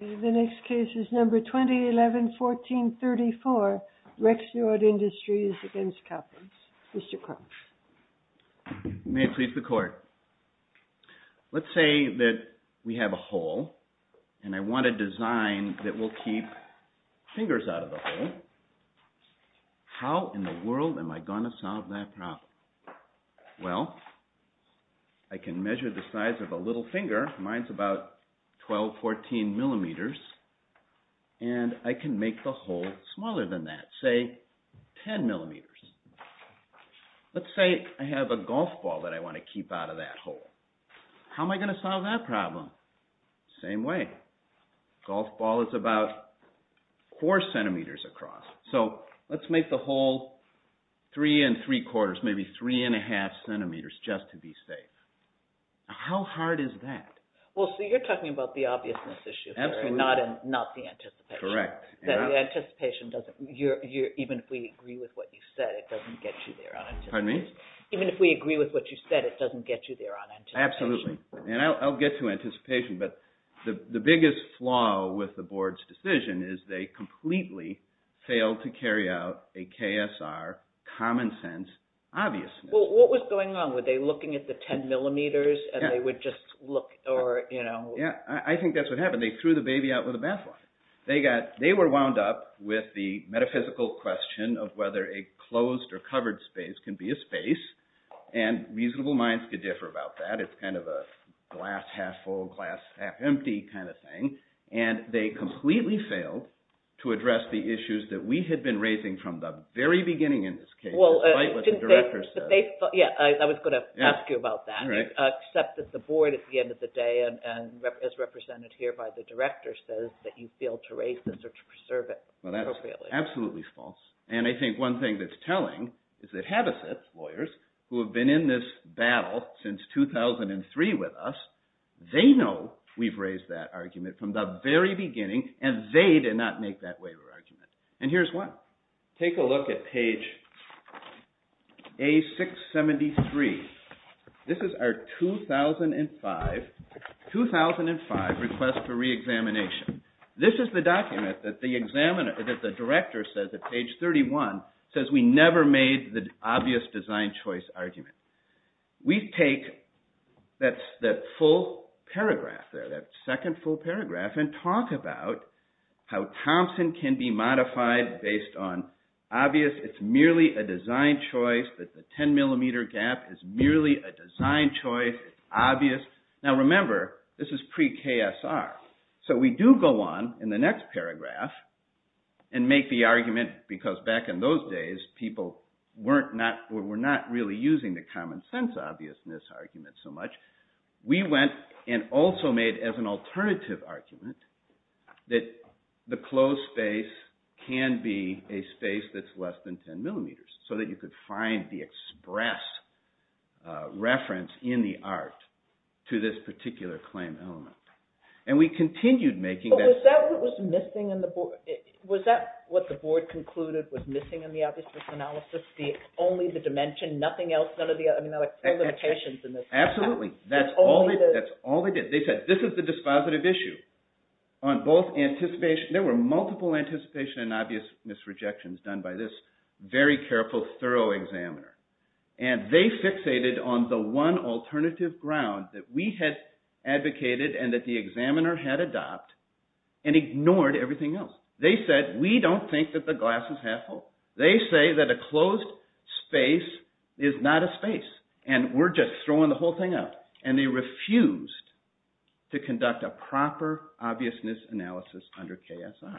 The next case is number 2011-14-34, Rexnord Industries against Coppins. Mr. Crouch. May it please the court. Let's say that we have a hole and I want a design that will keep fingers out of the hole. How in the world am I going to solve that problem? Well, I can measure the size of a little finger. Mine's about 12-14 millimeters. And I can make the hole smaller than that, say 10 millimeters. Let's say I have a golf ball that I want to keep out of that hole. How am I going to solve that problem? Same way. Golf ball is about four centimeters across. So let's make the hole three and three quarters, maybe three and a half centimeters just to be safe. How hard is that? Well, so you're talking about the obviousness issue, not the anticipation. Correct. The anticipation doesn't, even if we agree with what you said, it doesn't get you there on anticipation. Pardon me? Even if we agree with what you said, it doesn't get you there on anticipation. Absolutely. And I'll get to anticipation. But the biggest flaw with the board's decision is they completely failed to carry out a KSR, common sense, obviousness. Well, what was going on? Were they looking at the 10 millimeters and they would just look? Yeah, I think that's what happened. They threw the baby out with the bathwater. They were wound up with the metaphysical question of whether a closed or covered space can be a space. And reasonable minds could differ about that. It's kind of a glass half full, glass half empty kind of thing. And they completely failed to address the issues that we had been raising from the very beginning in this case, despite what the director said. Yeah, I was going to ask you about that. Except that the board at the end of the day, as represented here by the director, says that you failed to raise this or to preserve it appropriately. Absolutely false. And I think one thing that's telling is that Habesitz lawyers, who have been in this battle since 2003 with us, they know we've raised that argument from the very beginning and they did not make that waiver argument. And here's why. Take a look at page A673. This is our 2005 request for reexamination. This is the document that the director says, at page 31, says we never made the obvious design choice argument. We take that full paragraph there, that second full paragraph, and talk about how Thompson can be modified based on obvious, it's merely a design choice, that the 10 millimeter gap is merely a design choice, obvious. Now remember, this is pre-KSR. So we do go on in the next paragraph and make the argument, because back in those days, people were not really using the common sense obviousness argument so much. We went and also made as an alternative argument that the closed space can be a space that's less than 10 millimeters, so that you could find the express reference in the art to this particular claim element. And we continued making that statement. But was that what was missing in the board? Was that what the board concluded was missing in the obviousness analysis? Only the dimension, nothing else, none of the other limitations in this? Absolutely. That's all they did. They said this is the dispositive issue. There were multiple anticipation and obviousness rejections done by this very careful, thorough examiner. And they fixated on the one alternative ground that we had advocated and that the examiner had adopted and ignored everything else. They said, we don't think that the glass is half full. They say that a closed space is not a space, and we're just throwing the whole thing out. And they refused to conduct a proper obviousness analysis under KSR.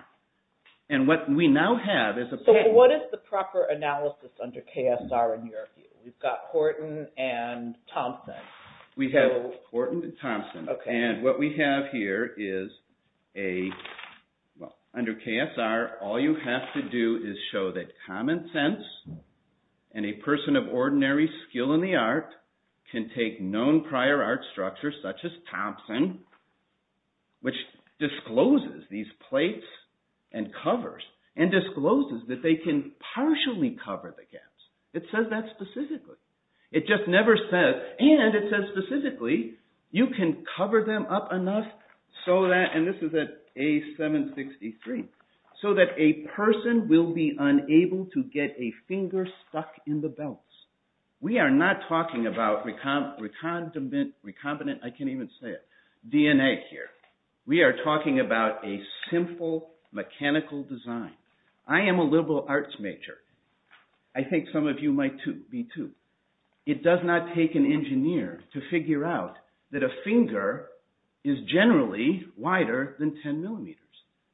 So what is the proper analysis under KSR in your view? We've got Horton and Thompson. We have Horton and Thompson. And what we have here is, under KSR, all you have to do is show that common sense and a person of ordinary skill in the art can take known prior art structures such as Thompson, which discloses these plates and covers, and discloses that they can partially cover the gaps. It says that specifically. It just never says, and it says specifically, you can cover them up enough so that, and this is at A763, so that a person will be unable to get a finger stuck in the belts. We are not talking about recombinant, I can't even say it, DNA here. We are talking about a simple mechanical design. I am a liberal arts major. I think some of you might be too. It does not take an engineer to figure out that a finger is generally wider than 10 millimeters.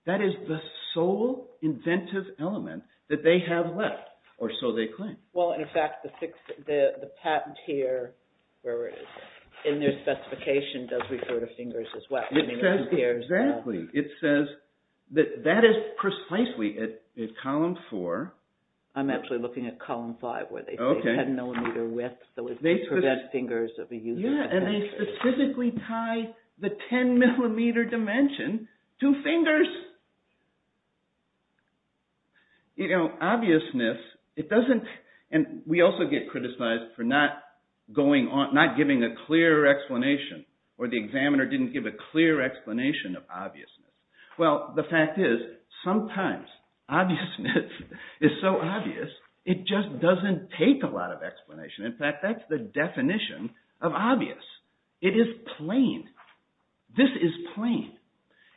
That is the sole inventive element that they have left, or so they claim. Well, in fact, the patent here, in their specification, does refer to fingers as well. Exactly. It says that that is precisely at column four. I am actually looking at column five, where they say 10 millimeter width so as to prevent fingers of a user. Yeah, and they specifically tie the 10 millimeter dimension to fingers. You know, obviousness, it doesn't, and we also get criticized for not giving a clear explanation, or the examiner didn't give a clear explanation of obviousness. Well, the fact is, sometimes, obviousness is so obvious, it just doesn't take a lot of explanation. In fact, that's the definition of obvious. It is plain. This is plain.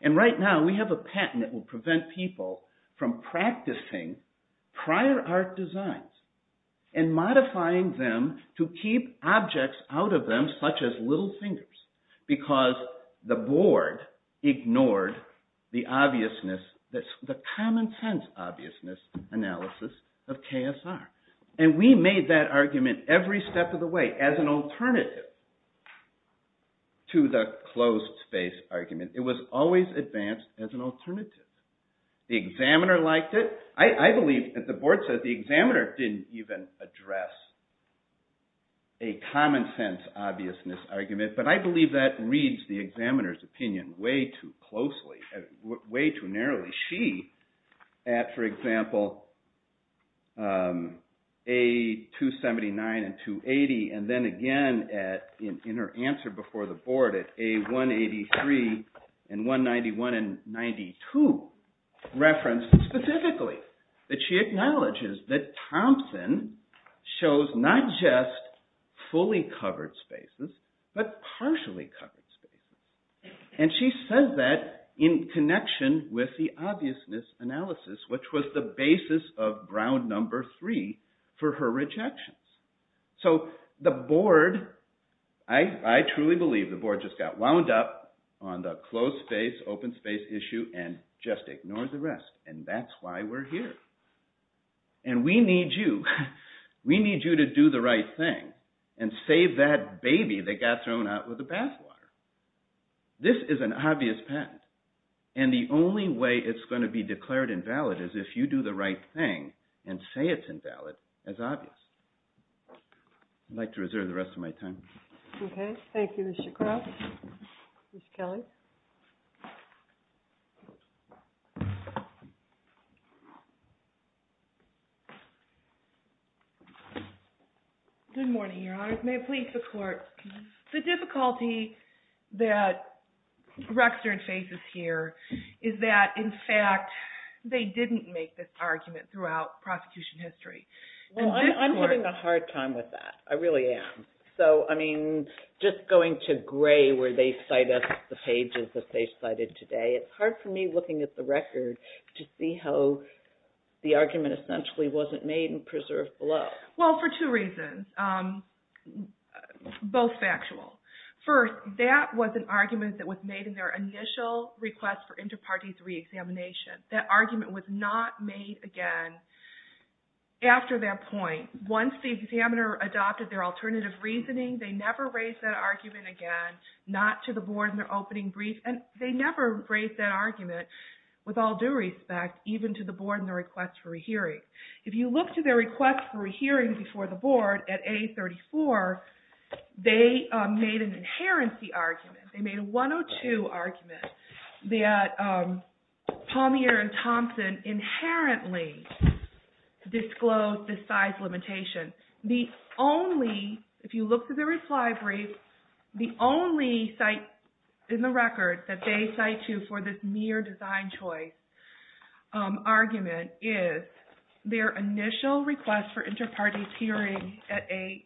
And right now, we have a patent that will prevent people from practicing prior art designs and modifying them to keep objects out of them, such as little fingers, because the board ignored the common sense obviousness analysis of KSR. And we made that argument every step of the way as an alternative to the closed space argument. It was always advanced as an alternative. The examiner liked it. I believe that the board says the examiner didn't even address a common sense obviousness argument, but I believe that reads the examiner's opinion way too closely, way too narrowly. She, at, for example, A279 and 280, and then again in her answer before the board at A183 and 191 and 92, reference specifically that she acknowledges that Thompson shows not just fully covered spaces, but partially covered spaces. And she says that in connection with the obviousness analysis, which was the basis of ground number three for her rejections. So the board, I truly believe the board just got wound up on the closed space, open space issue and just ignored the rest. And that's why we're here. And we need you. We need you to do the right thing and save that baby that got thrown out with the bathwater. This is an obvious patent. And the only way it's going to be declared invalid is if you do the right thing and say it's invalid as obvious. I'd like to reserve the rest of my time. Okay. Thank you, Mr. Krauss. Ms. Kelly? Good morning, Your Honors. May it please the Court, the difficulty that Rexner and Faith is here is that, in fact, they didn't make this argument throughout prosecution history. Well, I'm having a hard time with that. I really am. So, I mean, just going to gray where they cite us the pages that they cited today, it's hard for me looking at the record to see how the argument essentially wasn't made and preserved below. Well, for two reasons, both factual. First, that was an argument that was made in their initial request for inter-parties re-examination. That argument was not made again after that point. Once the examiner adopted their alternative reasoning, they never raised that argument again, not to the Board in their opening brief. And they never raised that argument, with all due respect, even to the Board in their request for a hearing. If you look to their request for a hearing before the Board at A34, they made an inherency argument. They made a 102 argument that Palmeer and Thompson inherently disclosed the size limitation. The only, if you look to the reply brief, the only site in the record that they cite you for this mere design choice argument is their initial request for inter-parties hearing at A673.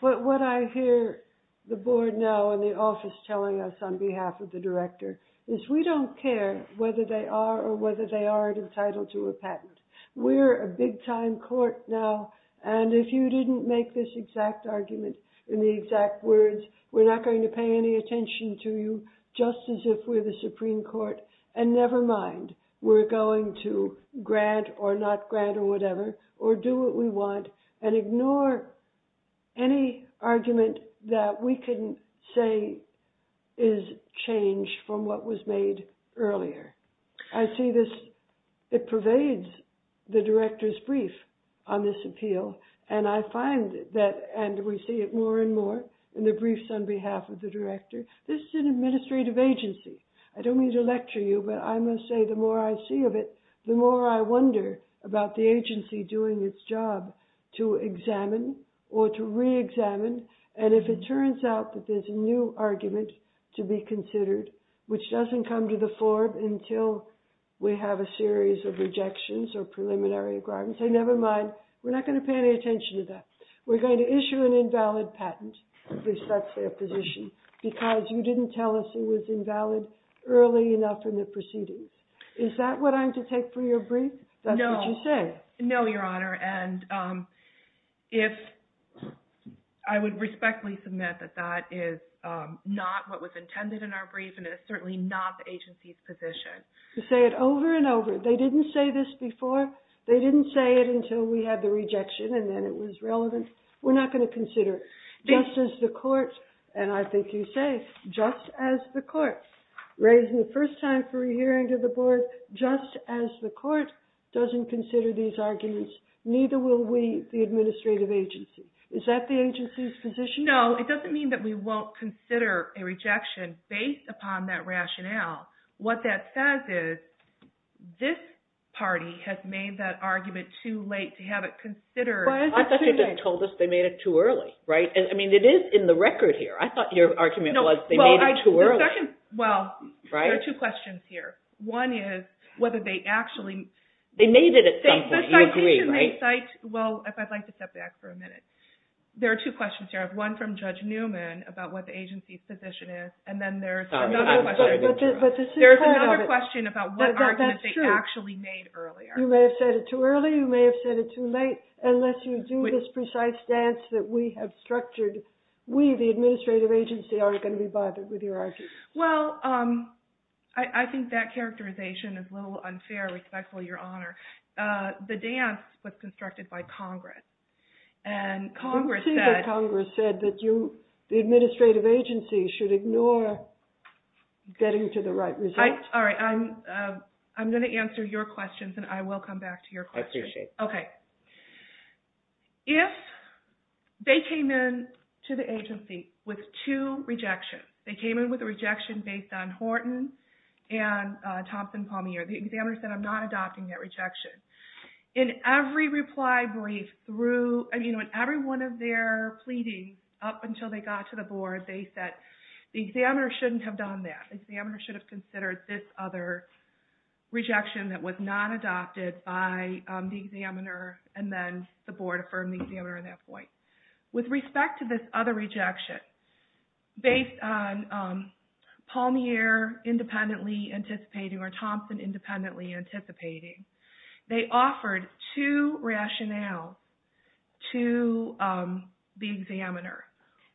What I hear the Board now and the office telling us on behalf of the Director is we don't care whether they are or whether they aren't entitled to a patent. We're a big-time court now, and if you didn't make this exact argument in the exact words, we're not going to pay any attention to you, just as if we're the Supreme Court. And never mind, we're going to grant or not grant or whatever, or do what we want, and ignore any argument that we can say is changed from what was made earlier. I see this, it pervades the Director's brief on this appeal, and I find that, and we see it more and more in the briefs on behalf of the Director. This is an administrative agency. I don't mean to lecture you, but I must say the more I see of it, the more I wonder about the agency doing its job to examine or to re-examine, and if it turns out that there's a new argument to be considered, which doesn't come to the fore until we have a series of rejections or preliminary agreements, I say never mind, we're not going to pay any attention to that. We're going to issue an invalid patent, if that's their position, because you didn't tell us it was invalid early enough in the proceedings. Is that what I'm to take for your brief? No, Your Honor, and I would respectfully submit that that is not what was intended in our brief, and it is certainly not the agency's position. You say it over and over. They didn't say this before. They didn't say it until we had the rejection, and then it was relevant. We're not going to consider it. Just as the court, and I think you say, just as the court, raising the first time for a hearing to the board, just as the court doesn't consider these arguments, neither will we, the administrative agency. Is that the agency's position? No, it doesn't mean that we won't consider a rejection based upon that rationale. What that says is this party has made that argument too late to have it considered. I thought you just told us they made it too early, right? I mean, it is in the record here. I thought your argument was they made it too early. Well, there are two questions here. One is whether they actually… They made it at some point. You agree, right? Well, if I'd like to step back for a minute. There are two questions here. I have one from Judge Newman about what the agency's position is, and then there's another question about what argument they actually made earlier. You may have said it too early. You may have said it too late. Unless you do this precise stance that we have structured, we, the administrative agency, aren't going to be bothered with your argument. Well, I think that characterization is a little unfair. Respectful your honor. The dance was constructed by Congress, and Congress said… Getting to the right result. All right. I'm going to answer your questions, and I will come back to your questions. I appreciate that. Okay. If they came in to the agency with two rejections, they came in with a rejection based on Horton and Thompson-Palmier. The examiner said, I'm not adopting that rejection. In every reply brief through… I mean, in every one of their pleadings up until they got to the board, they said the examiner shouldn't have done that. The examiner should have considered this other rejection that was not adopted by the examiner, and then the board affirmed the examiner at that point. With respect to this other rejection, based on Palmier independently anticipating or Thompson independently anticipating, they offered two rationales to the examiner.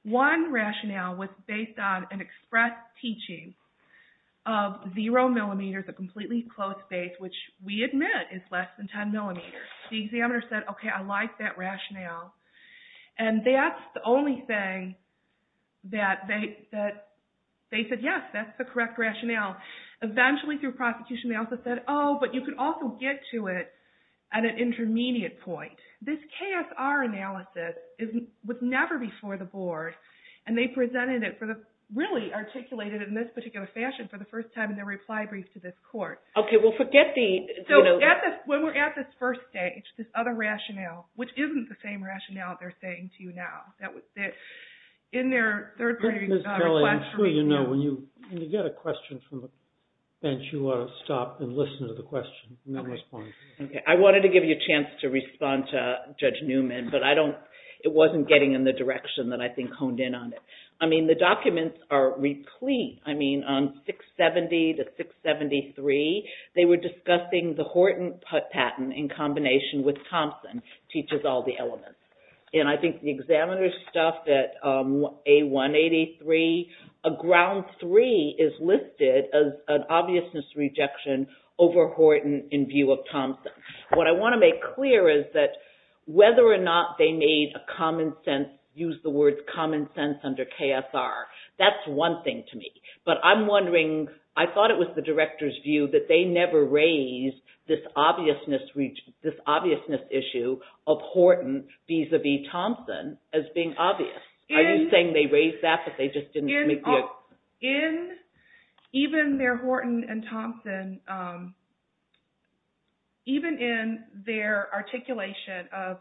One rationale was based on an express teaching of zero millimeters, a completely closed space, which we admit is less than 10 millimeters. The examiner said, okay, I like that rationale. And that's the only thing that they said, yes, that's the correct rationale. Eventually, through prosecution, they also said, oh, but you could also get to it at an intermediate point. This KSR analysis was never before the board, and they presented it for the… really articulated it in this particular fashion for the first time in their reply brief to this court. Okay. Well, forget the… So, when we're at this first stage, this other rationale, which isn't the same rationale they're saying to you now. Ms. Kelly, I'm sure you know, when you get a question from the bench, you ought to stop and listen to the question and then respond. Okay. I wanted to give you a chance to respond to Judge Newman, but I don't… it wasn't getting in the direction that I think honed in on it. I mean, the documents are replete. I mean, on 670 to 673, they were discussing the Horton patent in combination with Thompson teaches all the elements. And I think the examiner's stuff at A183, a ground three is listed as an obviousness rejection over Horton in view of Thompson. What I want to make clear is that whether or not they made a common sense, use the word common sense under KSR, that's one thing to me. But I'm wondering, I thought it was the director's view that they never raised this obviousness issue of Horton vis-a-vis Thompson as being obvious. Are you saying they raised that, but they just didn't make the… In even their Horton and Thompson, even in their articulation of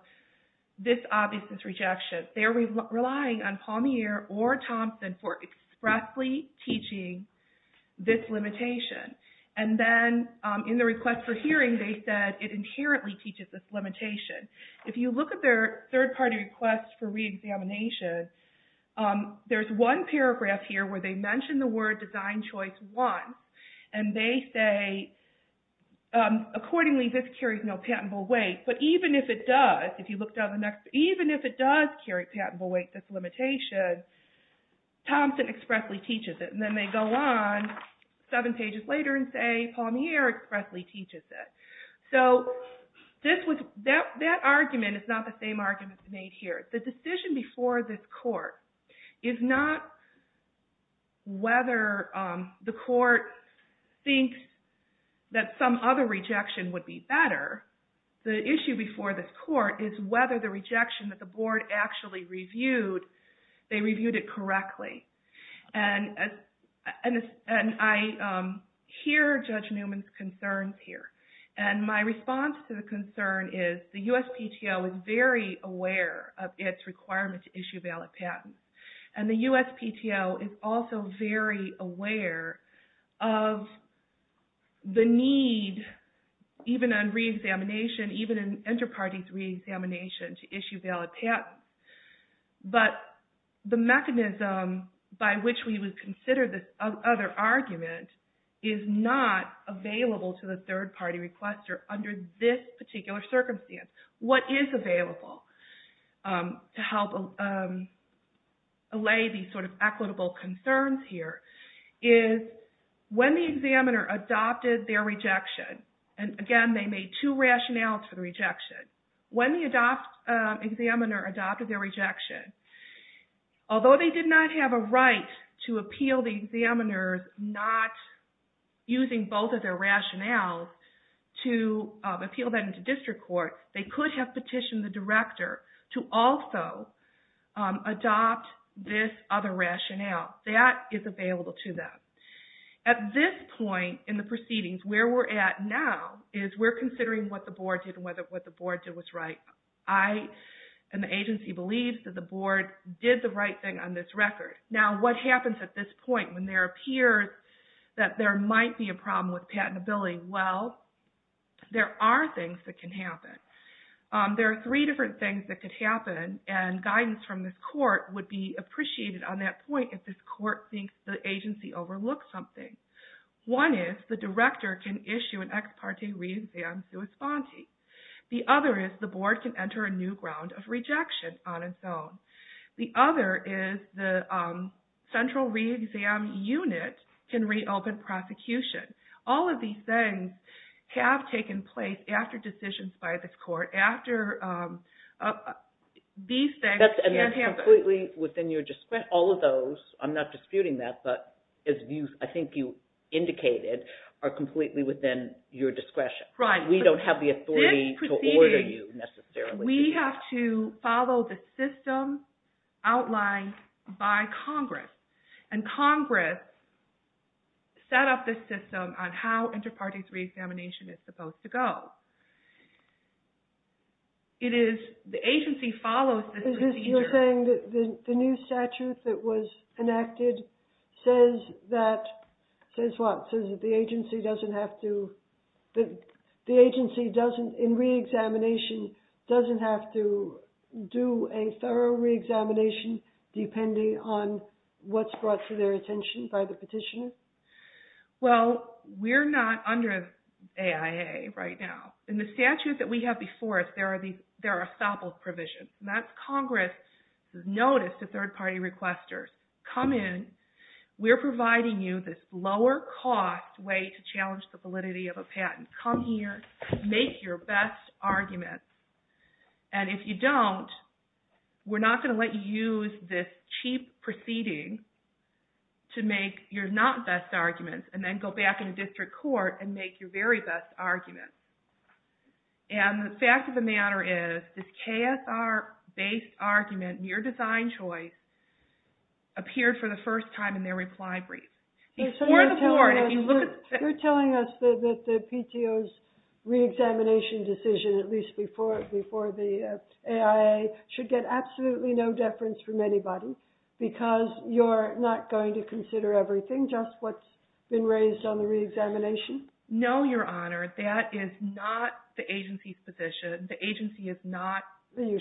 this obviousness rejection, they're relying on Palmier or Thompson for expressly teaching this limitation. And then in the request for hearing, they said it inherently teaches this limitation. If you look at their third party request for re-examination, there's one paragraph here where they mention the word design choice one. And they say, accordingly this carries no patentable weight. But even if it does, if you look down the next, even if it does carry patentable weight, this limitation, Thompson expressly teaches it. And then they go on seven pages later and say Palmier expressly teaches it. So that argument is not the same argument made here. The decision before this court is not whether the court thinks that some other rejection would be better. The issue before this court is whether the rejection that the board actually reviewed, they reviewed it correctly. And I hear Judge Newman's concerns here. And my response to the concern is the USPTO is very aware of its requirement to issue valid patents. And the USPTO is also very aware of the need, even on re-examination, even in inter-parties re-examination to issue valid patents. But the mechanism by which we would consider this other argument is not available to the third party requester under this particular circumstance. What is available to help allay these sort of equitable concerns here is when the examiner adopted their rejection, and again they made two rationales for the rejection. When the examiner adopted their rejection, although they did not have a right to appeal the examiner's not using both of their rationales to appeal that into district court, they could have petitioned the director to also adopt this other rationale. That is available to them. At this point in the proceedings, where we're at now is we're considering what the board did and whether what the board did was right. I and the agency believe that the board did the right thing on this record. Now what happens at this point when there appears that there might be a problem with patentability? Well, there are things that can happen. There are three different things that could happen and guidance from this court would be appreciated on that point if this court thinks the agency overlooked something. One is the director can issue an ex parte re-exam sui sponte. The other is the board can enter a new ground of rejection on its own. The other is the central re-exam unit can reopen prosecution. All of these things have taken place after decisions by this court, after these things can happen. That's completely within your discretion. All of those, I'm not disputing that, but as I think you indicated, are completely within your discretion. Right. We don't have the authority to order you necessarily. We have to follow the system outlined by Congress. And Congress set up this system on how inter-parties re-examination is supposed to go. The agency follows this procedure. You're saying that the new statute that was enacted says that the agency in re-examination doesn't have to do a thorough re-examination depending on what's brought to their attention by the petitioner? Well, we're not under AIA right now. In the statute that we have before us, there are stoppals provisions. That's Congress' notice to third-party requesters. Come in. We're providing you this lower-cost way to challenge the validity of a patent. Come here. Make your best argument. And if you don't, we're not going to let you use this cheap proceeding to make your not-best arguments and then go back into district court and make your very best argument. And the fact of the matter is, this KSR-based argument, your design choice, appeared for the first time in their reply brief. You're telling us that the PTO's re-examination decision, at least before the AIA, should get absolutely no deference from anybody because you're not going to consider everything, just what's been raised on the re-examination? No, Your Honor. That is not the agency's position. The agency is not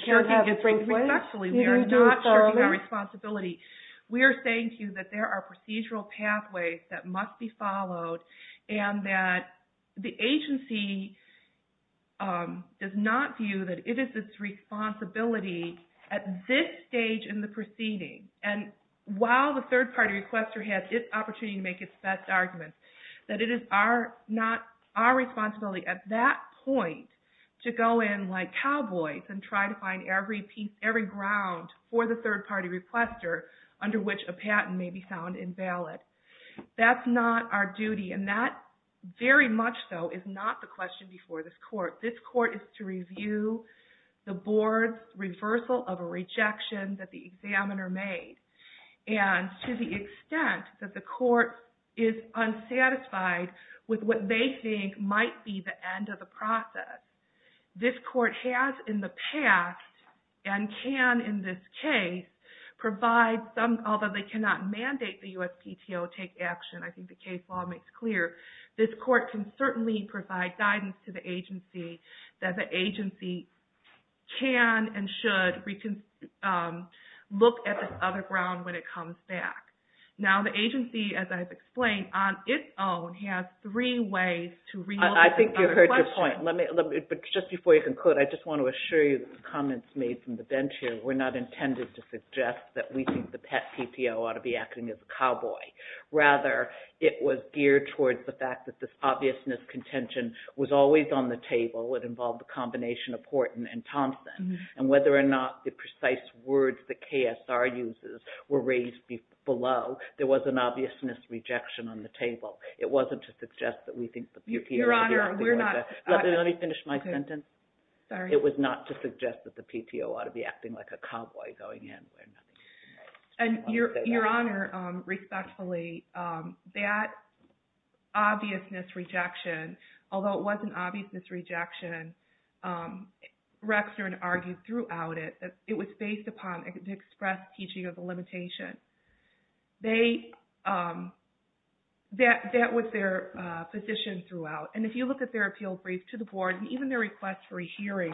shirking its responsibility. We are not shirking our responsibility. We are saying to you that there are procedural pathways that must be followed and that the agency does not view that it is its responsibility at this stage in the proceeding, and while the third-party requester has its opportunity to make its best arguments, that it is not our responsibility at that point to go in like cowboys and try to find every piece, every ground for the third-party requester, under which a patent may be found invalid. That's not our duty, and that very much so is not the question before this court. This court is to review the board's reversal of a rejection that the examiner made, and to the extent that the court is unsatisfied with what they think might be the end of the process, this court has in the past, and can in this case, provide some, although they cannot mandate the USPTO take action, I think the case law makes clear, this court can certainly provide guidance to the agency that the agency can and should look at this other ground when it comes back. Now, the agency, as I've explained, on its own, has three ways to realize this other question. But just before you conclude, I just want to assure you that the comments made from the bench here were not intended to suggest that we think the PET PTO ought to be acting as a cowboy. Rather, it was geared towards the fact that this obviousness contention was always on the table. It involved the combination of Horton and Thompson, and whether or not the precise words that KSR uses were raised below, there was an obviousness rejection on the table. It wasn't to suggest that we think the PTO… Your Honor, we're not… Let me finish my sentence. Sorry. It was not to suggest that the PTO ought to be acting like a cowboy going in. Your Honor, respectfully, that obviousness rejection, although it was an obviousness rejection, Rexner had argued throughout it that it was based upon an express teaching of the limitation. That was their position throughout. And if you look at their appeal brief to the board and even their request for a hearing,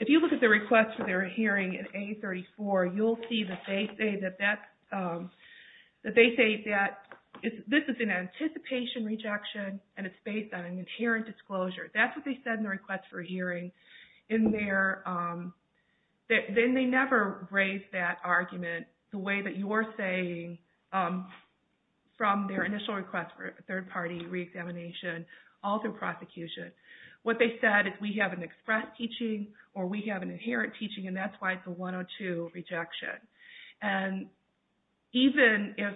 if you look at the request for their hearing in A34, you'll see that they say that this is an anticipation rejection and it's based on an inherent disclosure. That's what they said in the request for a hearing. Then they never raised that argument the way that you're saying from their initial request for a third-party reexamination all through prosecution. What they said is we have an express teaching or we have an inherent teaching, and that's why it's a 102 rejection. And even if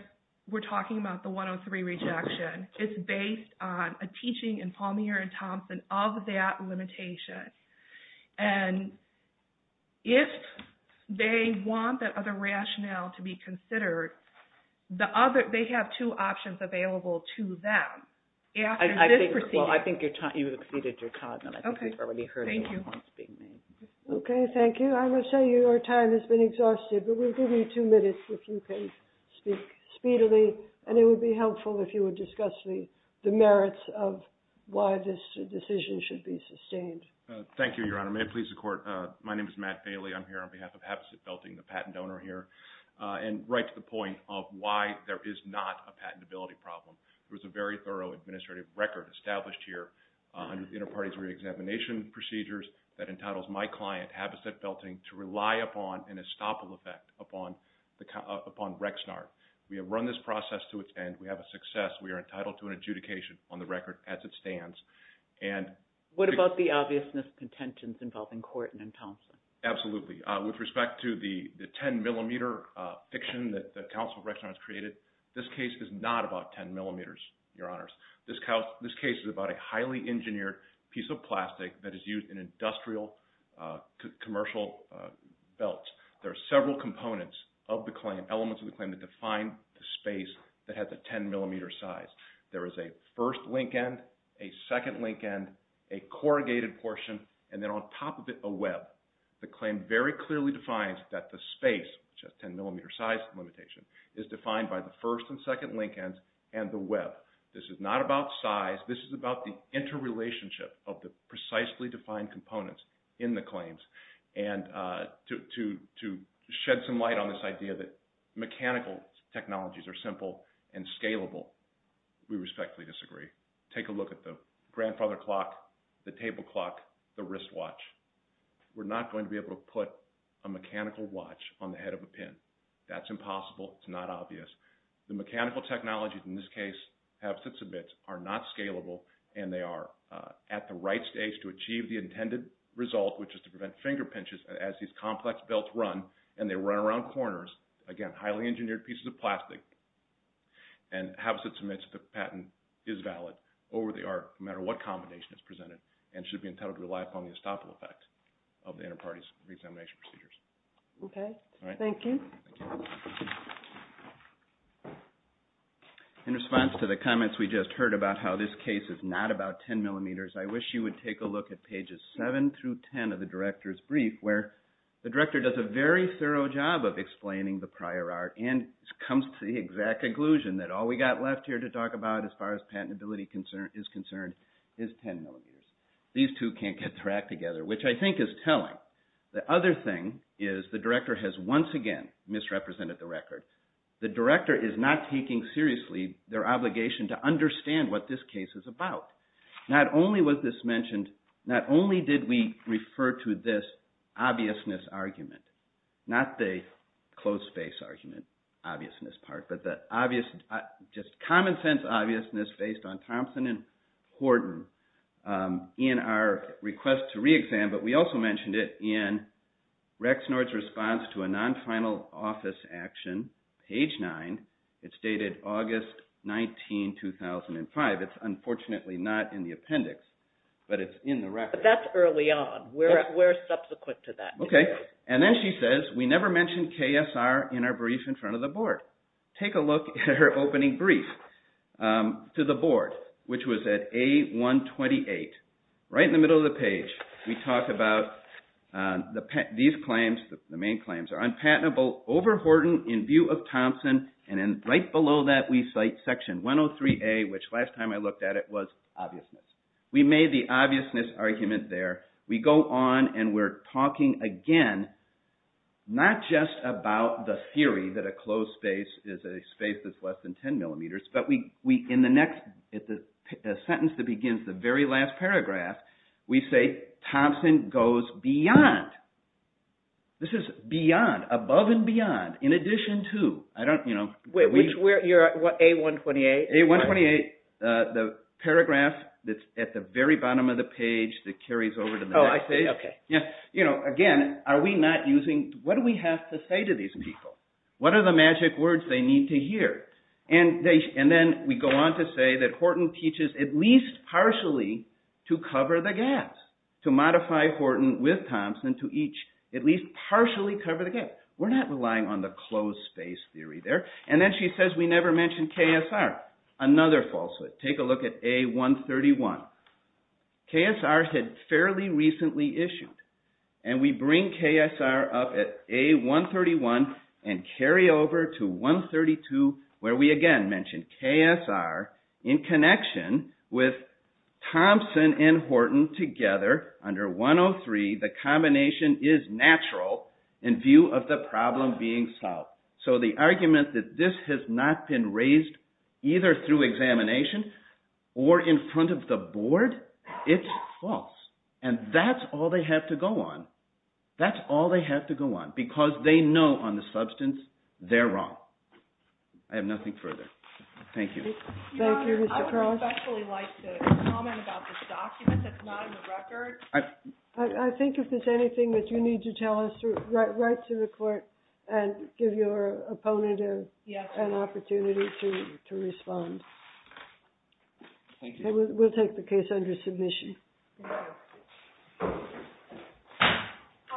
we're talking about the 103 rejection, it's based on a teaching in Palmier and Thompson of that limitation. And if they want that other rationale to be considered, the other – they have two options available to them after this proceeding. Well, I think you've exceeded your time, and I think we've already heard the remarks being made. Okay. Thank you. I must say your time has been exhausted, but we'll give you two minutes if you can speak speedily, and it would be helpful if you would discuss the merits of why this decision should be sustained. Thank you, Your Honor. May it please the Court, my name is Matt Bailey. I'm here on behalf of Habitat Belting, the patent owner here, and right to the point of why there is not a patentability problem. There was a very thorough administrative record established here under the inter-parties reexamination procedures that entitles my client, Habitat Belting, to rely upon an estoppel effect upon Rexnar. We have run this process to its end. We have a success. We are entitled to an adjudication on the record as it stands. What about the obviousness contentions involving Korten and Thompson? Absolutely. With respect to the 10-millimeter fiction that counsel Rexnar has created, this case is not about 10 millimeters, Your Honors. This case is about a highly engineered piece of plastic that is used in industrial commercial belts. There are several components of the claim, elements of the claim that define the space that has a 10-millimeter size. There is a first link end, a second link end, a corrugated portion, and then on top of it, a web. The claim very clearly defines that the space, which has a 10-millimeter size limitation, is defined by the first and second link ends and the web. This is not about size. This is about the interrelationship of the precisely defined components in the claims. To shed some light on this idea that mechanical technologies are simple and scalable, we respectfully disagree. Take a look at the grandfather clock, the table clock, the wristwatch. We're not going to be able to put a mechanical watch on the head of a pin. That's impossible. It's not obvious. The mechanical technologies in this case have sits a bit, are not scalable, and they are at the right stage to achieve the intended result, which is to prevent finger pinches as these complex belts run, and they run around corners. Again, highly engineered pieces of plastic. Havasut submits that the patent is valid, or they are, no matter what combination is presented, and should be entitled to rely upon the estoppel effect of the interparty's reexamination procedures. Okay. Thank you. In response to the comments we just heard about how this case is not about 10 millimeters, I wish you would take a look at pages 7 through 10 of the director's brief, where the director does a very thorough job of explaining the prior art, and comes to the exact conclusion that all we got left here to talk about as far as patentability is concerned is 10 millimeters. These two can't get their act together, which I think is telling. The other thing is the director has once again misrepresented the record. The director is not taking seriously their obligation to understand what this case is about. Not only was this mentioned, not only did we refer to this obviousness argument, not the closed space argument obviousness part, but the common sense obviousness based on Thompson and Horton in our request to reexam, but we also mentioned it in Rexnord's response to a non-final office action, page 9. It's dated August 19, 2005. It's unfortunately not in the appendix, but it's in the record. That's early on. We're subsequent to that. Okay. And then she says, we never mentioned KSR in our brief in front of the board. Take a look at her opening brief to the board, which was at A128. Right in the middle of the page, we talk about these claims, the main claims, are unpatentable over Horton in view of Thompson, and then right below that we cite section 103A, which last time I looked at it was obviousness. We made the obviousness argument there. We go on and we're talking again, not just about the theory that a closed space is a space that's less than 10 millimeters, but in the next sentence that begins the very last paragraph, we say Thompson goes beyond. This is beyond, above and beyond, in addition to. You're at A128? A128, the paragraph that's at the very bottom of the page that carries over to the next page. Oh, I see. Okay. Again, are we not using, what do we have to say to these people? What are the magic words they need to hear? And then we go on to say that Horton teaches at least partially to cover the gaps, to modify Horton with Thompson to each at least partially cover the gap. We're not relying on the closed space theory there. And then she says we never mentioned KSR, another falsehood. Take a look at A131. KSR had fairly recently issued, and we bring KSR up at A131 and carry over to 132, where we again mention KSR in connection with Thompson and Horton together under 103, the combination is natural in view of the problem being solved. So the argument that this has not been raised either through examination or in front of the board, it's false. And that's all they have to go on. That's all they have to go on, because they know on the substance they're wrong. I have nothing further. Thank you. Thank you, Mr. Cross. I would especially like to comment about this document that's not in the record. I think if there's anything that you need to tell us, write to the court and give your opponent an opportunity to respond. Thank you. We'll take the case under submission. Thank you. All rise.